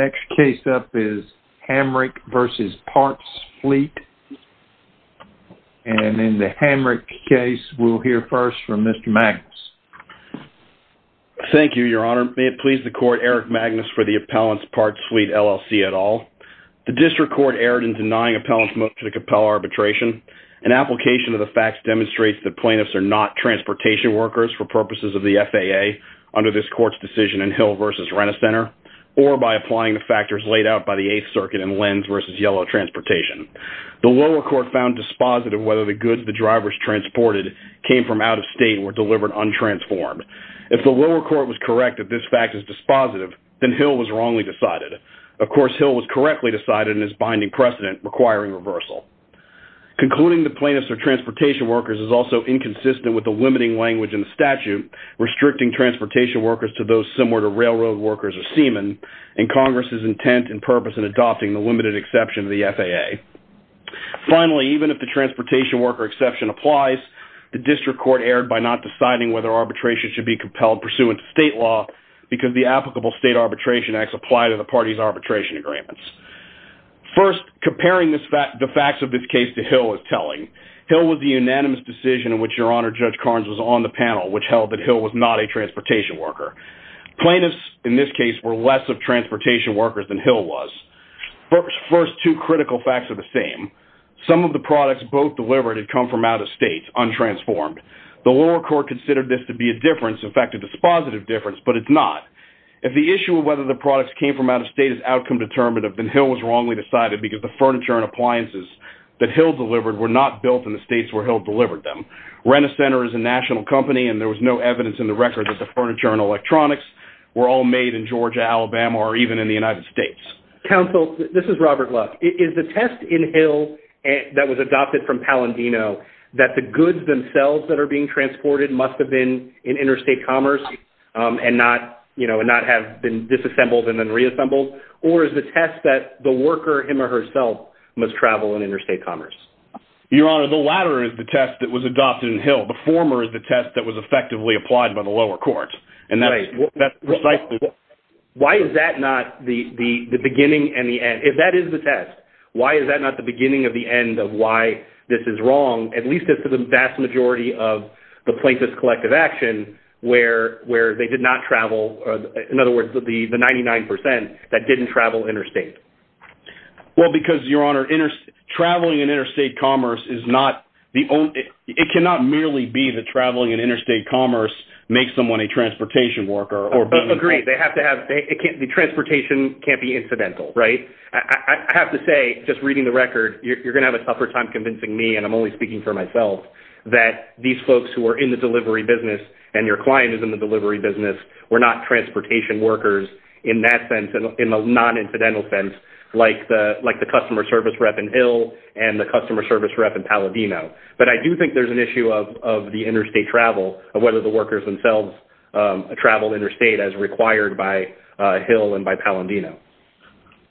The next case up is Hamrick v. Partsfleet and in the Hamrick case we'll hear first from Mr. Magnus. Thank you, Your Honor. May it please the Court, Eric Magnus for the appellant's Partsfleet LLC et al. The district court erred in denying appellant's motion to compel arbitration. An application of the facts demonstrates that plaintiffs are not transportation workers for purposes of the FAA under this court's decision in Hill v. Renner Center or by applying the factors laid out by the 8th Circuit in Lenz v. Yellow Transportation. The lower court found dispositive whether the goods the drivers transported came from out of state were delivered untransformed. If the lower court was correct that this fact is dispositive, then Hill was wrongly decided. Of course, Hill was correctly decided in his binding precedent requiring reversal. Concluding that plaintiffs are transportation workers is also inconsistent with the limiting language in the statute restricting transportation workers to those similar to railroad workers or seamen and Congress's intent and purpose in adopting the limited exception to the FAA. Finally, even if the transportation worker exception applies, the district court erred by not deciding whether arbitration should be compelled pursuant to state law because the applicable state arbitration acts apply to the parties' arbitration agreements. First, comparing the facts of this case to Hill is telling. Hill was the unanimous decision in which Your Honor, Judge Carnes was on the panel, which held that Hill was not a transportation worker. Plaintiffs, in this case, were less of transportation workers than Hill was. First, two critical facts are the same. Some of the products both delivered had come from out of state, untransformed. The lower court considered this to be a difference, in fact, a dispositive difference, but it's not. If the issue of whether the products came from out of state is outcome determinative, then Hill was wrongly decided because the furniture and appliances that Hill delivered were not built in the states where Hill delivered them. Rent-A-Center is a national company, and there was no evidence in the record that the furniture and electronics were all made in Georgia, Alabama, or even in the United States. Counsel, this is Robert Luck. Is the test in Hill that was adopted from Palandino that the goods themselves that are being transported must have been in interstate commerce and not have been disassembled and then reassembled, or is the test that the worker him or herself must travel in interstate commerce? Your Honor, the latter is the test that was adopted in Hill. The former is the test that was effectively applied by the lower court, and that's precisely... Why is that not the beginning and the end? If that is the test, why is that not the beginning of the end of why this is wrong, at least as to the vast majority of the plaintiffs' collective action where they did not travel, in other words, the 99% that didn't travel interstate? Well, because, Your Honor, traveling in interstate commerce is not the only... It cannot merely be that traveling in interstate commerce makes someone a transportation worker or... Agreed. They have to have... The transportation can't be incidental, right? I have to say, just reading the record, you're going to have a tougher time convincing me, and I'm only speaking for myself, that these folks who are in the delivery business and your client is in the delivery business were not transportation workers in that sense, in the non-incidental sense, like the customer service rep in Hill and the customer service rep in Paladino. But I do think there's an issue of the interstate travel, of whether the workers themselves travel interstate as required by Hill and by Paladino.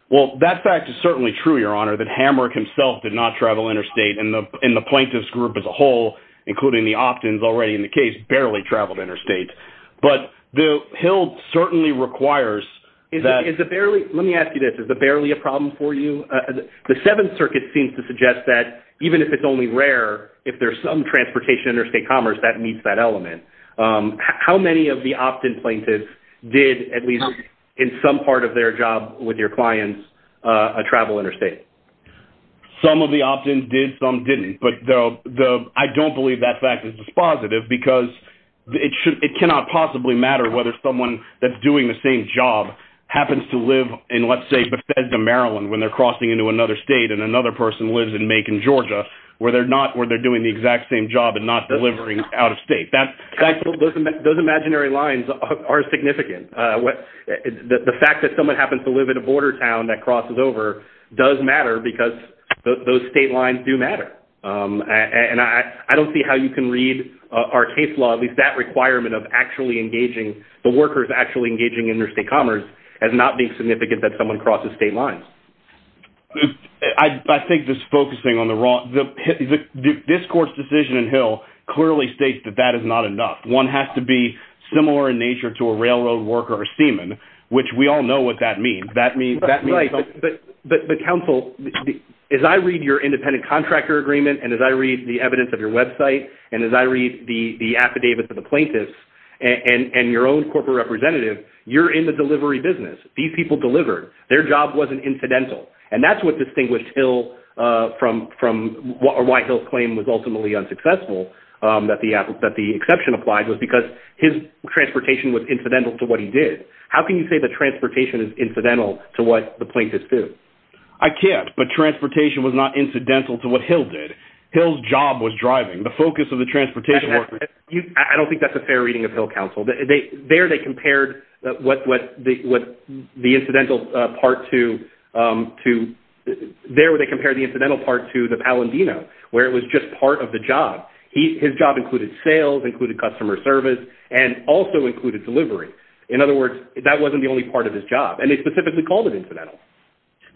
Well, that fact is certainly true, Your Honor, that Hamrick himself did not travel interstate, and the plaintiffs' group as a whole, including the opt-ins already in the case, barely traveled interstate. But Hill certainly requires that... Let me ask you this. Is the barely a problem for you? The Seventh Circuit seems to suggest that even if it's only rare, if there's some transportation interstate commerce that meets that element. How many of the opt-in plaintiffs did, at least in some part of their job with your clients, travel interstate? Some of the opt-ins did, some didn't. But I don't believe that fact is dispositive, because it cannot possibly matter whether someone that's doing the same job happens to live in, let's say, Bethesda, Maryland, when they're crossing into another state and another person lives in Macon, Georgia, where they're doing the exact same job and not delivering out of state. Those imaginary lines are significant. The fact that someone happens to live in a border town that crosses over does matter, because those state lines do matter. And I don't see how you can read our case law, at least that requirement of actually engaging the workers actually engaging interstate commerce as not being significant that someone crosses state lines. I think just focusing on the raw... This court's decision in Hill clearly states that that is not enough. One has to be similar in nature to a railroad worker or seaman, which we all know what that means. That means... Right, but counsel, as I read your independent contractor agreement, and as I read the evidence of your website, and as I read the affidavits of the plaintiffs, and your own corporate representative, you're in the delivery business. These people delivered. Their job wasn't incidental. And that's what distinguished Hill from... Or why Hill's claim was ultimately unsuccessful, that the exception applied, was because his transportation was incidental to what he did. How can you say that transportation is incidental to what the plaintiffs did? I can't, but transportation was not incidental to what Hill did. Hill's job was driving. The focus of the transportation... I don't think that's a fair reading of Hill, counsel. There, they compared what the incidental part to... There, they compared the incidental part to the Palandino, where it was just part of the job. His job included sales, included customer service, and also included delivery. In other words, that wasn't the only part of his job, and they specifically called it incidental.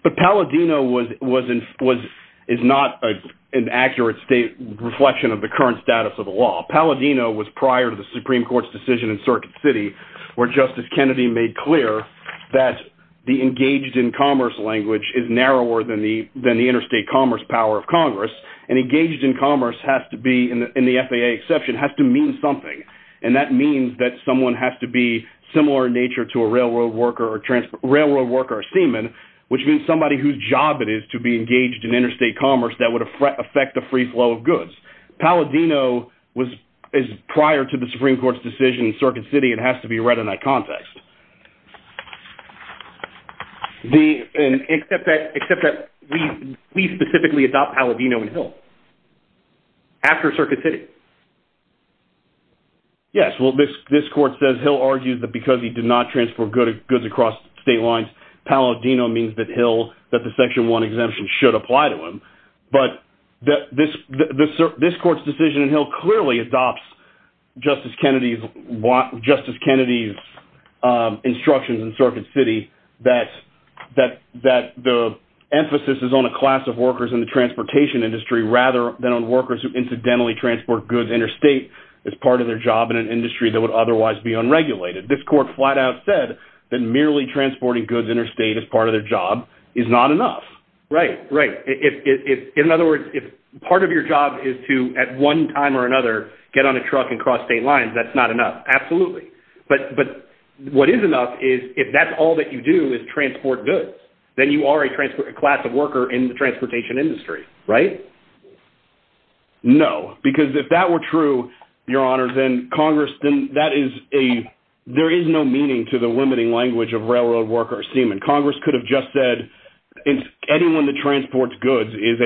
But Palandino is not an accurate state reflection of the current status of the law. Palandino was prior to the Supreme Court's decision in Circuit City, where Justice Kennedy made clear that the engaged in commerce language is narrower than the interstate commerce power of Congress. And engaged in commerce has to be, in the FAA exception, has to mean something. And that means that someone has to be similar in nature to a railroad worker or a seaman, which means somebody whose job it is to be engaged in interstate commerce that would affect the free flow of goods. Palandino is prior to the Supreme Court's decision in Circuit City. It has to be read in that context. Except that we specifically adopt Palandino and Hill after Circuit City. Yes. Well, this Court says Hill argued that because he did not transport goods across state lines, Palandino means that the Section 1 exemption should apply to him. But this Court's decision in Hill clearly adopts Justice Kennedy's instructions in Circuit City that the emphasis is on a class of workers in the transportation industry rather than on workers who incidentally transport goods interstate as part of their job in an industry that would otherwise be unregulated. This Court flat out said that merely transporting goods interstate as part of their job is not enough. Right, right. In other words, if part of your job is to, at one time or another, get on a truck and cross state lines, that's not enough. Absolutely. But what is enough is, if that's all that you do is transport goods, then you are a class of worker in the transportation industry, right? No, because if that were true, Your Honor, then Congress, then that is a, there is no meaning to the limiting language of railroad worker or seaman. Congress could have just said anyone that transports goods is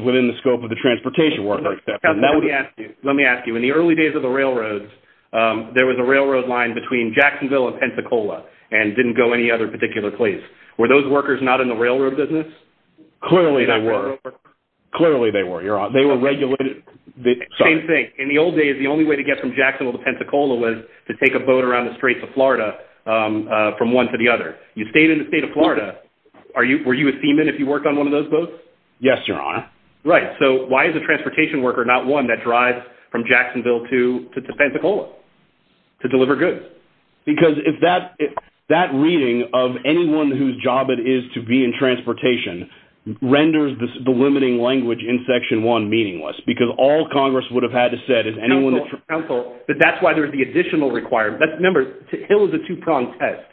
within the scope of the transportation worker. Let me ask you, in the early days of the railroads, there was a railroad line between Jacksonville and Pensacola and didn't go any other particular place. Were those workers not in the railroad business? Clearly they were. Clearly they were, Your Honor. They were regulated. Same thing. In the old days, the only way to get from Jacksonville to Pensacola was to take a boat around the Straits of Florida from one to the other. You stayed in the state of Florida. Were you a seaman if you worked on one of those boats? Yes, Your Honor. Right. So why is a transportation worker not one that drives from Jacksonville to Pensacola to deliver goods? Because if that reading of anyone whose job it is to be in transportation renders the limiting language in Section 1 meaningless, because all Congress would have had to said is anyone that transports... Counsel, but that's why there's the additional requirement. Remember, it was a two-pronged test.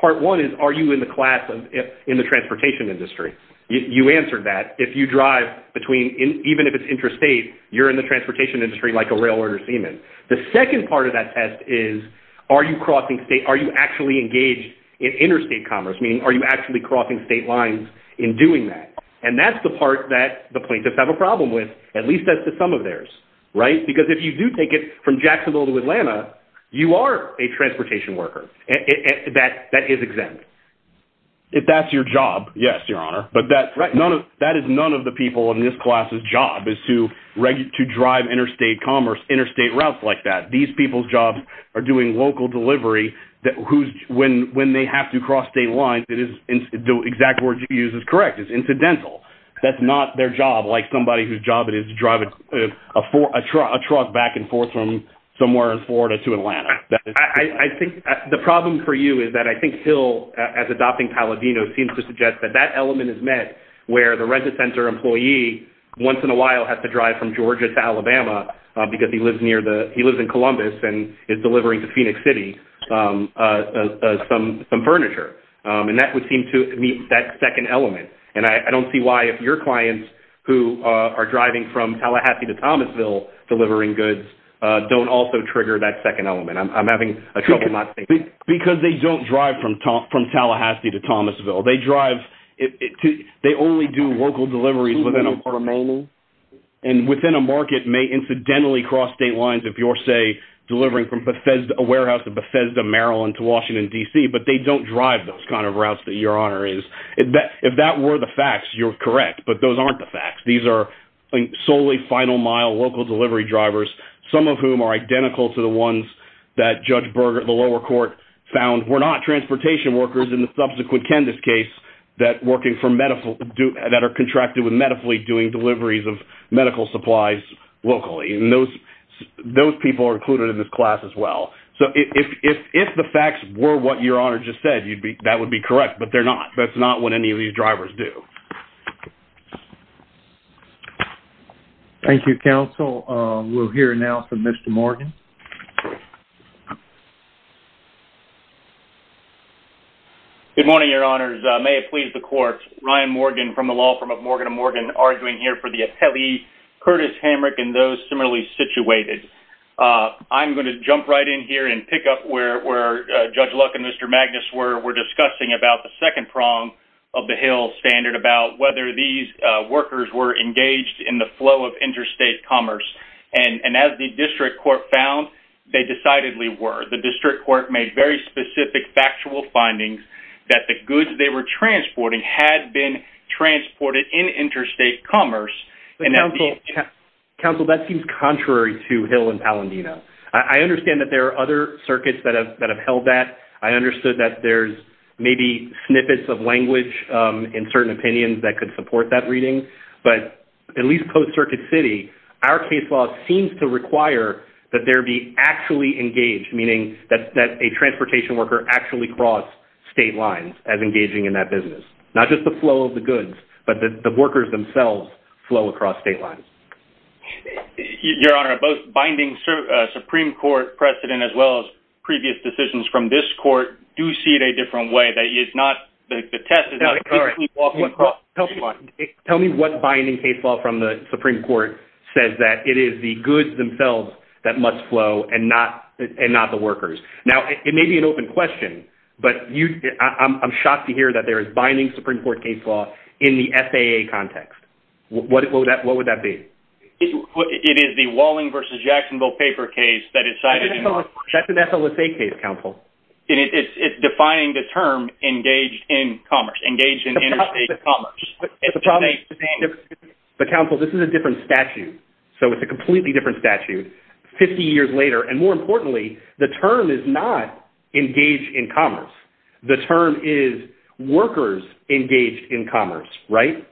Part one is, are you in the class of, in the transportation industry? You answered that. If you drive between, even if it's interstate, you're in the transportation industry like a railroader seaman. The second part of that test is, are you actually engaged in interstate commerce? Meaning, are you actually crossing state lines in doing that? And that's the part that the plaintiffs have a problem with. At least that's the sum of theirs, right? Because if you do take it from Jacksonville to Atlanta, you are a transportation worker. That is exempt. If that's your job, yes, Your Honor. But that is none of the people in this class's job, is to drive interstate commerce, interstate routes like that. These people's jobs are doing local delivery. When they have to cross state lines, the exact word you use is correct. It's incidental. That's not their job, like somebody whose job it is to drive a truck back and forth from somewhere in Florida to Atlanta. I think the problem for you is that I think Hill, as adopting Palladino, seems to suggest that that element is met where the register center once in a while has to drive from Georgia to Alabama because he lives in Columbus and is delivering to Phoenix City some furniture. And that would seem to meet that second element. And I don't see why if your clients who are driving from Tallahassee to Thomasville delivering goods don't also trigger that second element. I'm having a trouble not seeing that. Because they don't drive from Tallahassee to Thomasville. They only do local deliveries remaining. And within a market may incidentally cross state lines if you're, say, delivering from a warehouse in Bethesda, Maryland to Washington, D.C. But they don't drive those kind of routes that your honor is. If that were the facts, you're correct. But those aren't the facts. These are solely final mile local delivery drivers, some of whom are identical to the ones that Judge Berger at the lower court found were not transportation workers in the subsequent case that are contracted with medically doing deliveries of medical supplies locally. And those people are included in this class as well. So if the facts were what your honor just said, that would be correct. But they're not. That's not what any of these drivers do. Thank you, counsel. We'll hear now from Mr. Morgan. Good morning, your honors. May it please the court. Ryan Morgan from the law firm of Morgan & Morgan arguing here for the appellee Curtis Hamrick and those similarly situated. I'm going to jump right in here and pick up where Judge Luck and Mr. Magnus were discussing about the second prong of the Hill standard about whether these workers were engaged in the flow of interstate commerce. And as the district court found, they decidedly were. The district court made very specific factual findings that the goods they were transporting had been transported in interstate commerce. Counsel, that seems contrary to Hill and Palandino. I understand that there are other circuits that have held that. I understood that there's maybe snippets of language in certain opinions that could support that reading. But at least post-Circuit City, our case law seems to require that there be actually engaged, meaning that a transportation worker actually crossed state lines as engaging in that business. Not just the flow of the goods, but the workers themselves flow across state lines. Your honor, both binding Supreme Court precedent as well as tell me what binding case law from the Supreme Court says that it is the goods themselves that must flow and not the workers. Now, it may be an open question, but I'm shocked to hear that there is binding Supreme Court case law in the FAA context. What would that be? It is the Walling v. Jacksonville paper case that is cited in the- That's an FLSA case, counsel. And it's defining the term engaged in commerce, engaged in interstate commerce. But counsel, this is a different statute. So it's a completely different statute 50 years later. And more importantly, the term is not engaged in commerce. The term is workers engaged in commerce, right?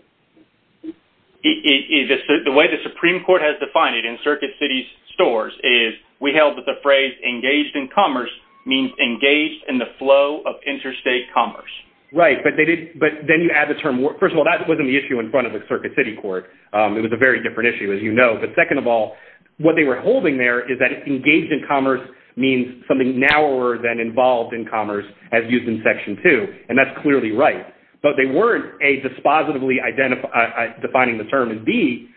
The way the Supreme Court has defined it in Circuit City's stores is we held that the phrase engaged in commerce means engaged in the flow of interstate commerce. Right. But then you add the term- First of all, that wasn't the issue in front of the Circuit City Court. It was a very different issue, as you know. But second of all, what they were holding there is that engaged in commerce means something narrower than involved in commerce as used in Section 2. And that's clearly right. But they weren't, A, dispositively defining the term. And B,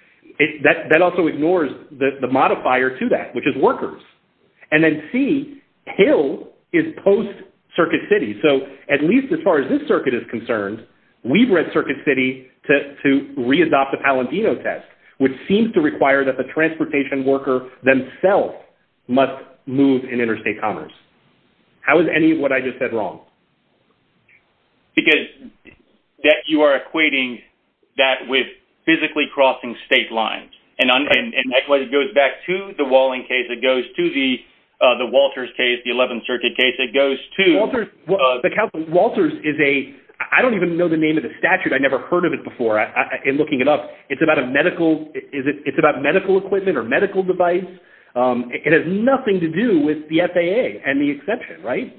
that also ignores the modifier to that, which is workers. And then C, Hill is post-Circuit City. So at least as far as this circuit is concerned, we've read Circuit City to re-adopt the Palantino test, which seems to require that the transportation worker themselves must move in interstate commerce. How is any of what I just said wrong? Because that you are equating that with physically crossing state lines. And likewise, it goes back to the Walling case. It goes to the Walters case, the 11th Circuit case. It goes to- Walters is a- I don't even know the name of the statute. I never heard of it before in looking it up. It's about medical equipment or medical device. It has nothing to do with the FAA and the exemption, right?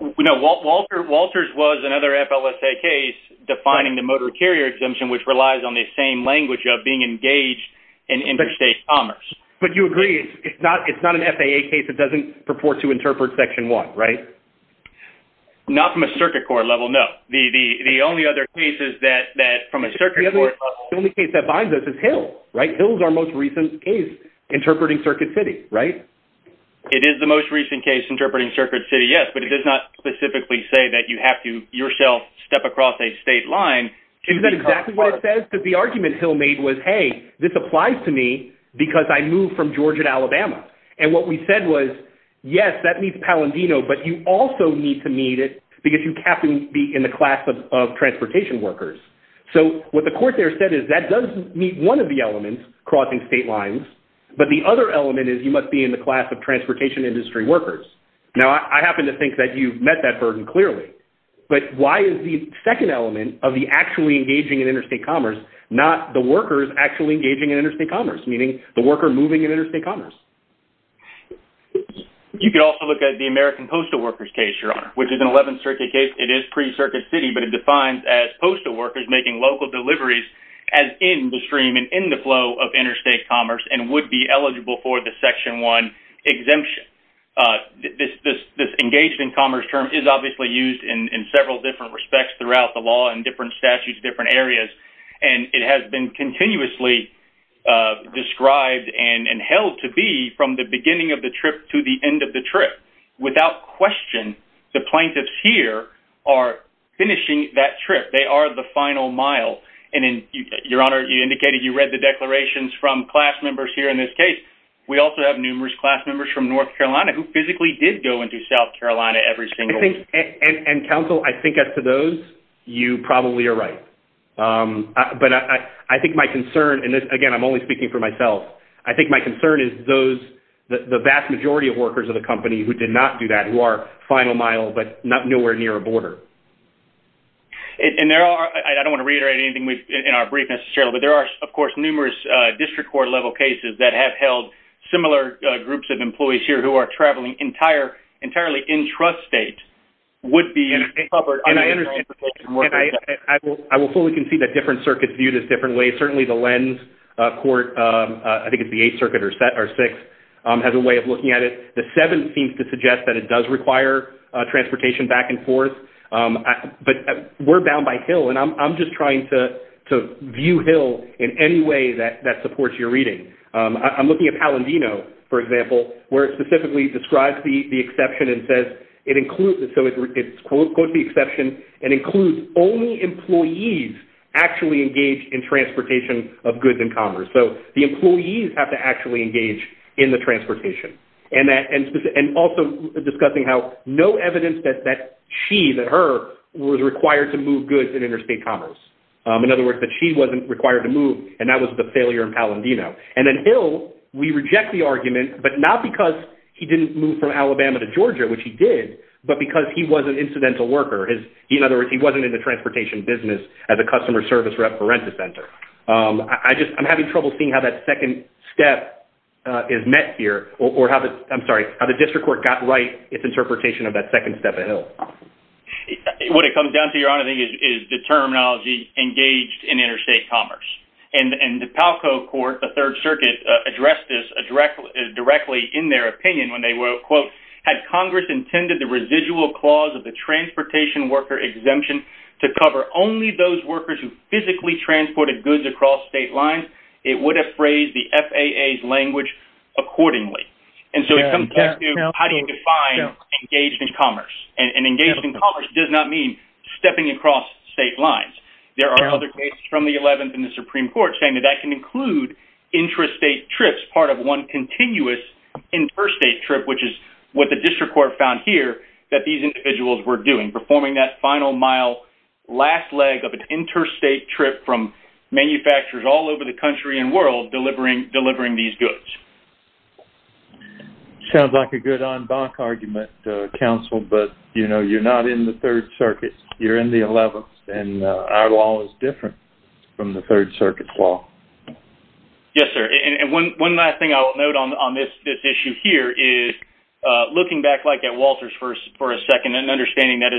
No. Walters was another FLSA case defining the motor carrier exemption, which relies on the same language of being engaged in interstate commerce. But you agree it's not an FAA case. It doesn't purport to interpret Section 1, right? Not from a Circuit Court level, no. The only other cases that from a Circuit Court- The only case that binds us is Hill, right? Hill is our most recent case interpreting Circuit City, right? It is the most recent case interpreting Circuit City, yes. But it does not specifically say that you have to yourself step across a state line- Isn't that exactly what it says? Because the argument Hill made was, hey, this applies to me because I moved from Georgia to Alabama. And what we said was, yes, that means Palindino, but you also need to meet it because you have to be in the class of transportation workers. So what the court there said is that does meet one of the elements, crossing state lines. But the other element is you must be in the class of transportation industry workers. Now, I happen to think that you've met that burden clearly. But why is the second element of the actually engaging in interstate commerce, not the workers actually engaging in interstate commerce, meaning the worker moving in interstate commerce? You could also look at the American postal workers case, Your Honor, which is an 11th Circuit case. It is pre-Circuit City, but it defines as postal workers making local deliveries as in the stream and in the flow of interstate commerce and would be eligible for the Section 1 exemption. This engaged in commerce term is obviously used in several different respects throughout the law and different statutes, different areas. And it has been continuously described and held to be from the beginning of the trip to the end of the trip. Without question, the plaintiffs here are finishing that trip. They are the final mile. And Your Honor, you indicated you read the declarations from class members here in this case. We also have numerous class members from North Carolina who physically did go into South Carolina every single week. And counsel, I think as to those, you probably are right. But I think my concern, and again, I'm only speaking for myself, I think my concern is those, the vast majority of workers of the company who did not do that, who are final mile, but not nowhere near a border. And there are, I don't want to reiterate anything in our briefness, but there are, of course, numerous district court level cases that have similar groups of employees here who are traveling entirely in trust state would be covered. And I understand. I will fully concede that different circuits view this differently. Certainly the lens court, I think it's the 8th Circuit or 6th, has a way of looking at it. The 7th seems to suggest that it does require transportation back and forth. But we're bound by Hill. And I'm just trying to view Hill in any way that supports your reading. I'm looking at Palandino, for example, where it specifically describes the exception and says it includes, so it quotes the exception and includes only employees actually engaged in transportation of goods and commerce. So the employees have to actually engage in the transportation. And also discussing how no evidence that she, that her, was required to move goods in interstate commerce. In other words, that she wasn't required to move and that was the failure in Palandino. And then Hill, we reject the argument, but not because he didn't move from Alabama to Georgia, which he did, but because he wasn't an incidental worker. In other words, he wasn't in the transportation business as a customer service rep for Rent-a-Center. I just, I'm having trouble seeing how that second step is met here or how the, I'm sorry, how the district court got right its interpretation of that second step at Hill. What it comes down to, Your Honor, I think is the terminology engaged in interstate commerce. And the Palco court, the third circuit, addressed this directly in their opinion when they were, quote, had Congress intended the residual clause of the transportation worker exemption to cover only those workers who physically transported goods across state lines, it would have phrased the FAA's language accordingly. And so it comes back to how do you define engaged in commerce? And engaged in commerce does not mean stepping across state lines. There are other cases from the 11th and the Supreme Court saying that that can include intrastate trips, part of one continuous interstate trip, which is what the district court found here that these individuals were doing, performing that final mile, last leg of an interstate trip from manufacturers all over the country and world delivering these goods. Sounds like a good en banc argument, counsel, but, you know, you're not in the third circuit, you're in the 11th, and our law is different from the third circuit's law. Yes, sir. And one last thing I will note on this issue here is looking back like at Walter's for a second and understanding that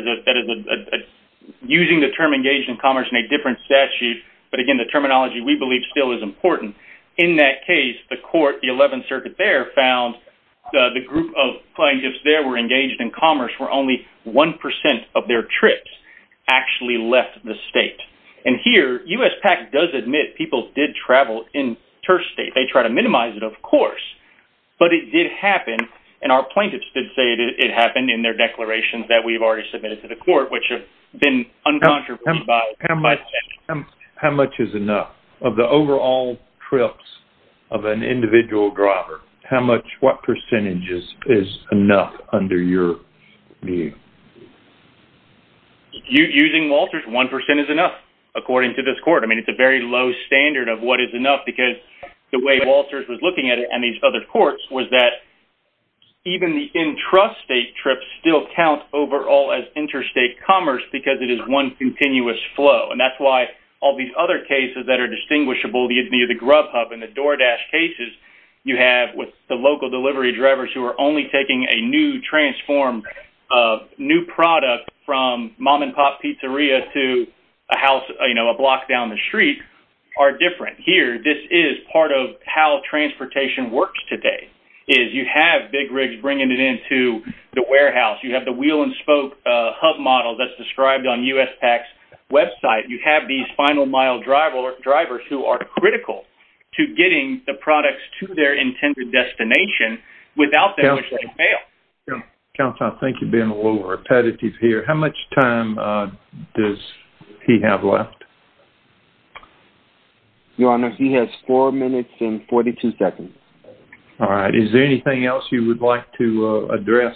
using the term engaged in commerce in a different statute, but again, the terminology we believe still is important. In that case, the court, the 11th there were engaged in commerce where only 1% of their trips actually left the state. And here, USPAC does admit people did travel interstate. They try to minimize it, of course, but it did happen. And our plaintiffs did say it happened in their declarations that we've already submitted to the court, which have been uncontroversial. How much is enough of the overall trips of an individual grubber? What percentage is enough under your view? Using Walter's, 1% is enough, according to this court. I mean, it's a very low standard of what is enough because the way Walter's was looking at it and these other courts was that even the intrastate trips still count overall as interstate commerce because it is one continuous flow. And all these other cases that are distinguishable, the identity of the grub hub and the door dash cases you have with the local delivery drivers who are only taking a new transform, new product from mom and pop pizzeria to a house, a block down the street are different. Here, this is part of how transportation works today is you have big rigs bringing it into the warehouse. You have the wheel and spoke hub model that's described on USPAC's website. You have these final mile drivers who are critical to getting the products to their intended destination without them failing. Counselor, I think you're being a little repetitive here. How much time does he have left? Your Honor, he has four minutes and 42 seconds. All right. Is there anything else you would like to address?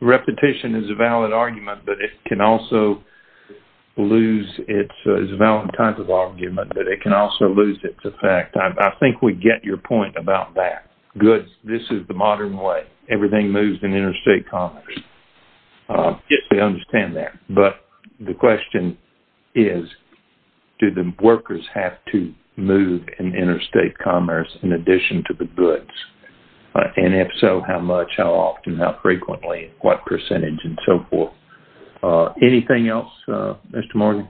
Repetition is a valid argument, but it can also lose its effect. I think we get your point about that. Goods, this is the modern way. Everything moves in interstate commerce. Yes, I understand that. But the question is, do the workers have to move in interstate commerce in addition to the goods? And if so, how much, how often, how frequently, what percentage and so forth? Anything else, Mr. Morgan?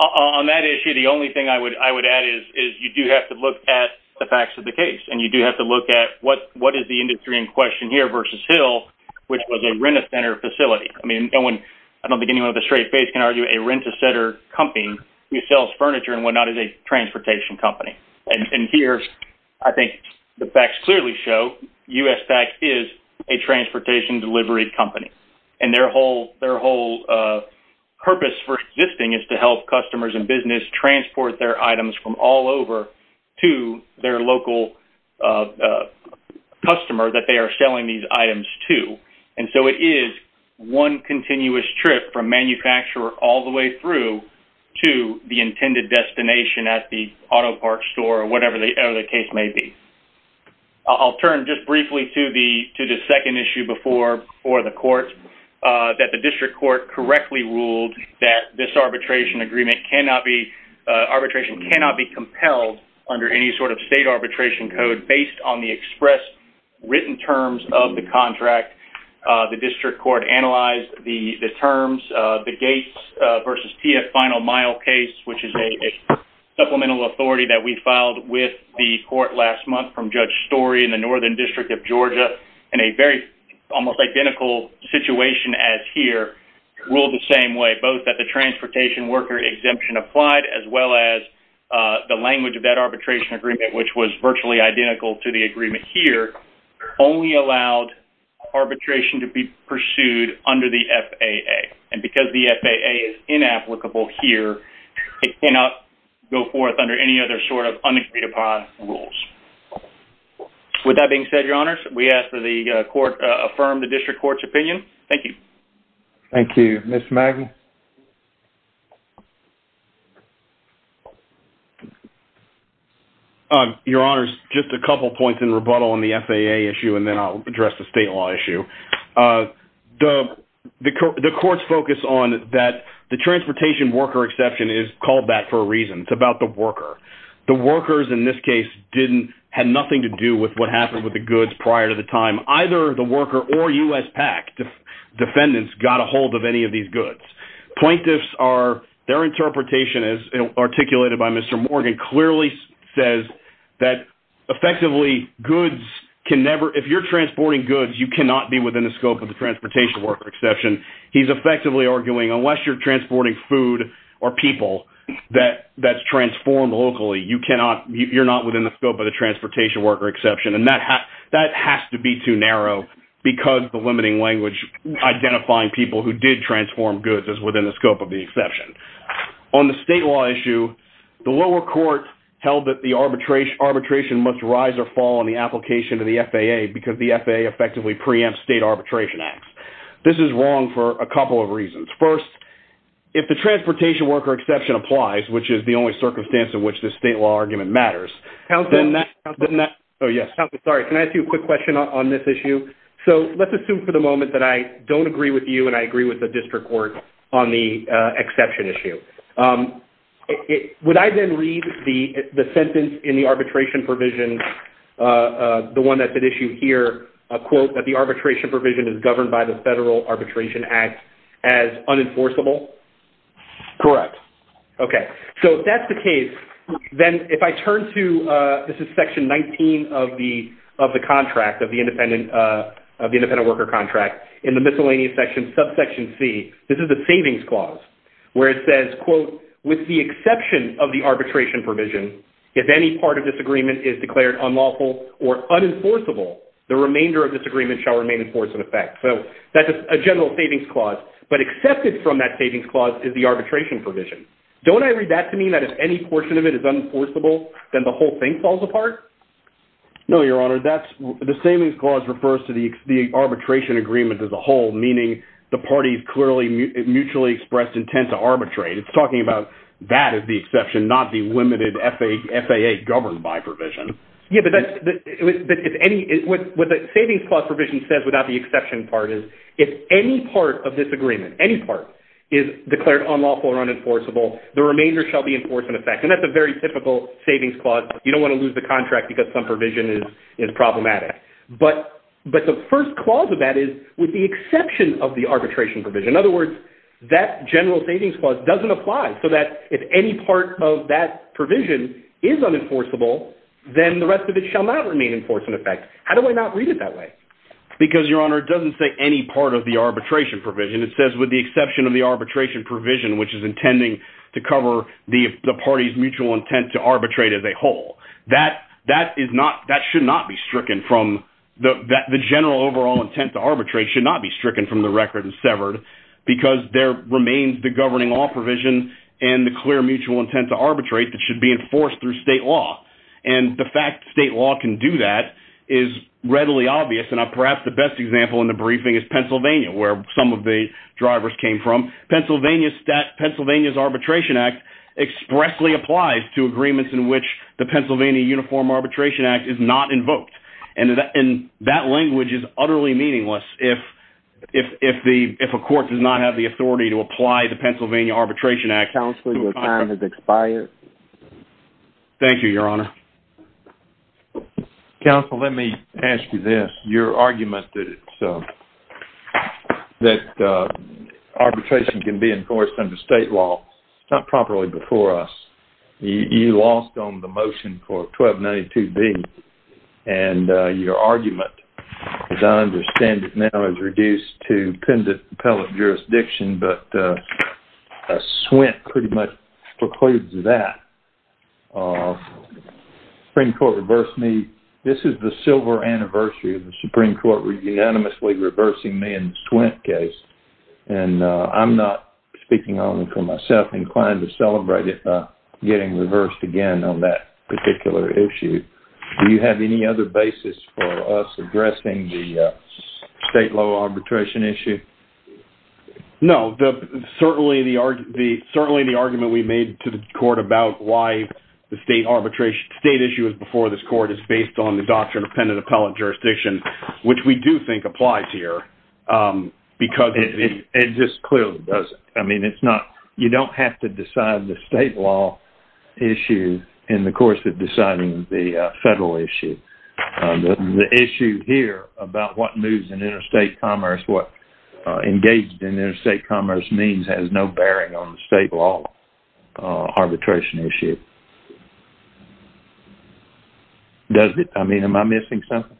On that issue, the only thing I would add is you do have to look at the facts of the case, and you do have to look at what is the industry in question here versus Hill, which was a rent-a-center facility. I don't think anyone with a straight face can argue a rent-a-center company who sells is a transportation delivery company. And their whole purpose for existing is to help customers and business transport their items from all over to their local customer that they are selling these items to. And so it is one continuous trip from manufacturer all the way through to the intended destination at the auto parts store or whatever the case may be. I'll turn just briefly to the second issue before the court, that the district court correctly ruled that this arbitration agreement cannot be, arbitration cannot be compelled under any sort of state arbitration code based on the express written terms of the contract. The district court analyzed the terms, the Gates versus TF final mile case, which is a supplemental authority that we filed with the court last month from Judge Story in the northern district of Georgia in a very almost identical situation as here, ruled the same way, both that the transportation worker exemption applied as well as the language of that arbitration agreement, which was virtually identical to the agreement here, only allowed arbitration to be pursued under the FAA. And because the FAA is inapplicable here, it cannot go forth under any other sort of unagreed upon rules. With that being said, your honors, we ask that the court affirm the district court's opinion. Thank you. Thank you. Ms. Maggie. Your honors, just a couple of points in rebuttal on the FAA issue, and then I'll the court's focus on that the transportation worker exception is called that for a reason. It's about the worker. The workers in this case didn't, had nothing to do with what happened with the goods prior to the time, either the worker or U.S. PAC defendants got a hold of any of these goods. Plaintiffs are, their interpretation as articulated by Mr. Morgan clearly says that effectively goods can never, if you're transporting goods, you cannot be within the scope of the transportation worker exception. He's effectively arguing, unless you're transporting food or people that's transformed locally, you cannot, you're not within the scope of the transportation worker exception. And that has to be too narrow because the limiting language identifying people who did transform goods is within the scope of the exception. On the state law issue, the lower court held that the arbitration must rise or fall in the application to the FAA because the FAA effectively preempts state arbitration acts. This is wrong for a couple of reasons. First, if the transportation worker exception applies, which is the only circumstance in which the state law argument matters, then that, then that, oh yes, sorry, can I ask you a quick question on this issue? So let's assume for the moment that I don't agree with you and I agree with the district court on the exception issue. Would I then read the sentence in the arbitration provision, the one that's at issue here, a quote that the arbitration provision is governed by the Federal Arbitration Act as unenforceable? Correct. Okay. So if that's the case, then if I turn to, this is section 19 of the contract, of the independent worker contract, in the miscellaneous section, subsection C, this is a savings clause where it says, with the exception of the arbitration provision, if any part of this agreement is declared unlawful or unenforceable, the remainder of this agreement shall remain in force in effect. So that's a general savings clause, but accepted from that savings clause is the arbitration provision. Don't I read that to mean that if any portion of it is unenforceable, then the whole thing falls apart? No, your honor. The savings clause refers to the arbitration agreement as a whole, meaning the parties clearly mutually expressed intent to arbitrate. It's the exception, not the limited FAA governed by provision. Yeah, but what the savings clause provision says without the exception part is, if any part of this agreement, any part, is declared unlawful or unenforceable, the remainder shall be in force in effect. And that's a very typical savings clause. You don't want to lose the contract because some provision is problematic. But the first clause of that is with the exception of the arbitration provision. In general, savings clause doesn't apply so that if any part of that provision is unenforceable, then the rest of it shall not remain in force in effect. How do I not read it that way? Because your honor, it doesn't say any part of the arbitration provision. It says with the exception of the arbitration provision, which is intending to cover the party's mutual intent to arbitrate as a whole, that should not be stricken from the general overall intent to arbitrate, should not be stricken from the record and severed, because there remains the governing law provision and the clear mutual intent to arbitrate that should be enforced through state law. And the fact state law can do that is readily obvious. And perhaps the best example in the briefing is Pennsylvania, where some of the drivers came from. Pennsylvania's Arbitration Act expressly applies to agreements in which the Pennsylvania Uniform Arbitration Act is not if a court does not have the authority to apply the Pennsylvania Arbitration Act. Counsel, your time has expired. Thank you, your honor. Counsel, let me ask you this. Your argument that arbitration can be enforced under state law is not properly before us. You lost on the motion for 1292B. And your argument, as I understand it is reduced to pendent appellate jurisdiction, but a SWINT pretty much precludes that. Supreme Court reversed me. This is the silver anniversary of the Supreme Court unanimously reversing me in the SWINT case. And I'm not speaking only for myself inclined to celebrate it by getting reversed again on that particular issue. Do you have any other basis for us addressing the state law arbitration issue? No, certainly the argument we made to the court about why the state arbitration state issue is before this court is based on the doctrine of pendent appellate jurisdiction, which we do think applies here. It just clearly doesn't. I mean, you don't have to decide the state law issue in the course of deciding the federal issue. The issue here about what moves in interstate commerce, what engaged in interstate commerce means has no bearing on the state law arbitration issue. Does it? I mean, am I missing something?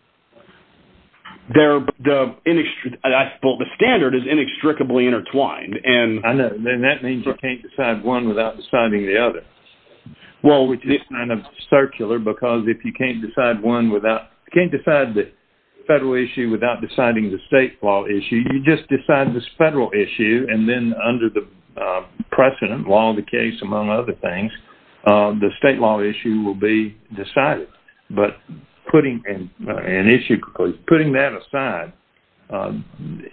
Well, the standard is inextricably intertwined. And that means you can't decide one without deciding the other. Well, which is kind of circular, because if you can't decide one issue without deciding the state law issue, you just decide this federal issue. And then under the precedent law of the case, among other things, the state law issue will be decided. But putting that aside,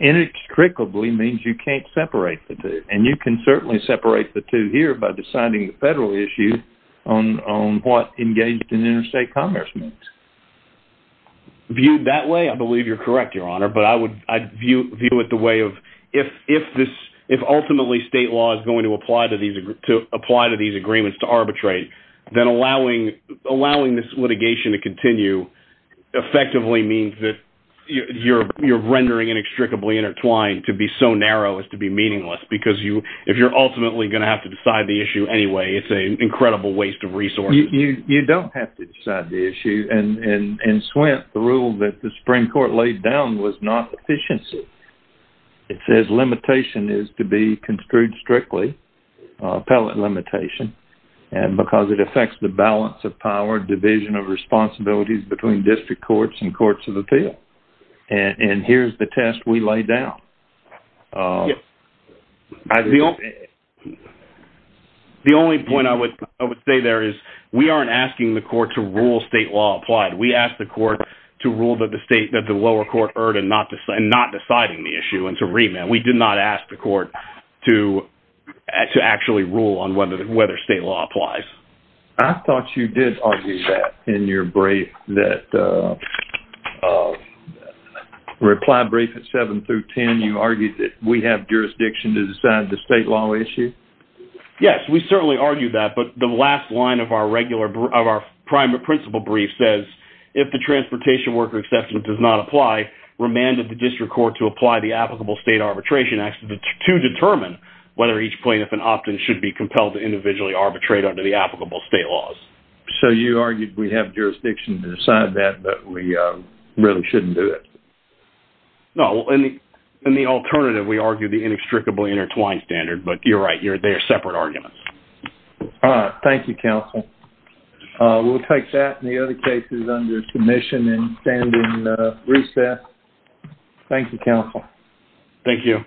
inextricably means you can't separate the two. And you can certainly separate the two here by deciding the federal issue on what engaged in interstate commerce means. Viewed that way, I believe you're correct, Your Honor. But I'd view it the way of, if ultimately state law is going to apply to these agreements to arbitrate, then allowing this litigation to continue effectively means that you're rendering inextricably intertwined to be so narrow as to be meaningless. Because if you're ultimately going to have to decide the issue anyway, it's an incredible waste of resources. You don't have to decide the issue. And in Swift, the rule that the Supreme Court laid down was not efficiency. It says limitation is to be construed strictly, appellate limitation, because it affects the balance of power, division of responsibilities between district courts and courts of appeal. And here's the test we laid down. The only point I would say there is we aren't asking the court to rule state law applied. We asked the court to rule that the lower court erred in not deciding the issue and to remand. We did not ask the court to actually rule on whether state law applies. I thought you did argue that in your brief, that reply brief at 7 through 10, you argued that we have jurisdiction to decide the state law issue. Yes, we certainly argued that. The last line of our primary principle brief says, if the transportation worker exception does not apply, remanded the district court to apply the applicable state arbitration act to determine whether each plaintiff and opt-in should be compelled to individually arbitrate under the applicable state laws. So you argued we have jurisdiction to decide that, but we really shouldn't do it? No. In the alternative, we argue the inextricably intertwined standard, but you're right. They are separate arguments. All right. Thank you, counsel. We'll take that and the other cases under commission and stand in recess. Thank you, counsel. Thank you.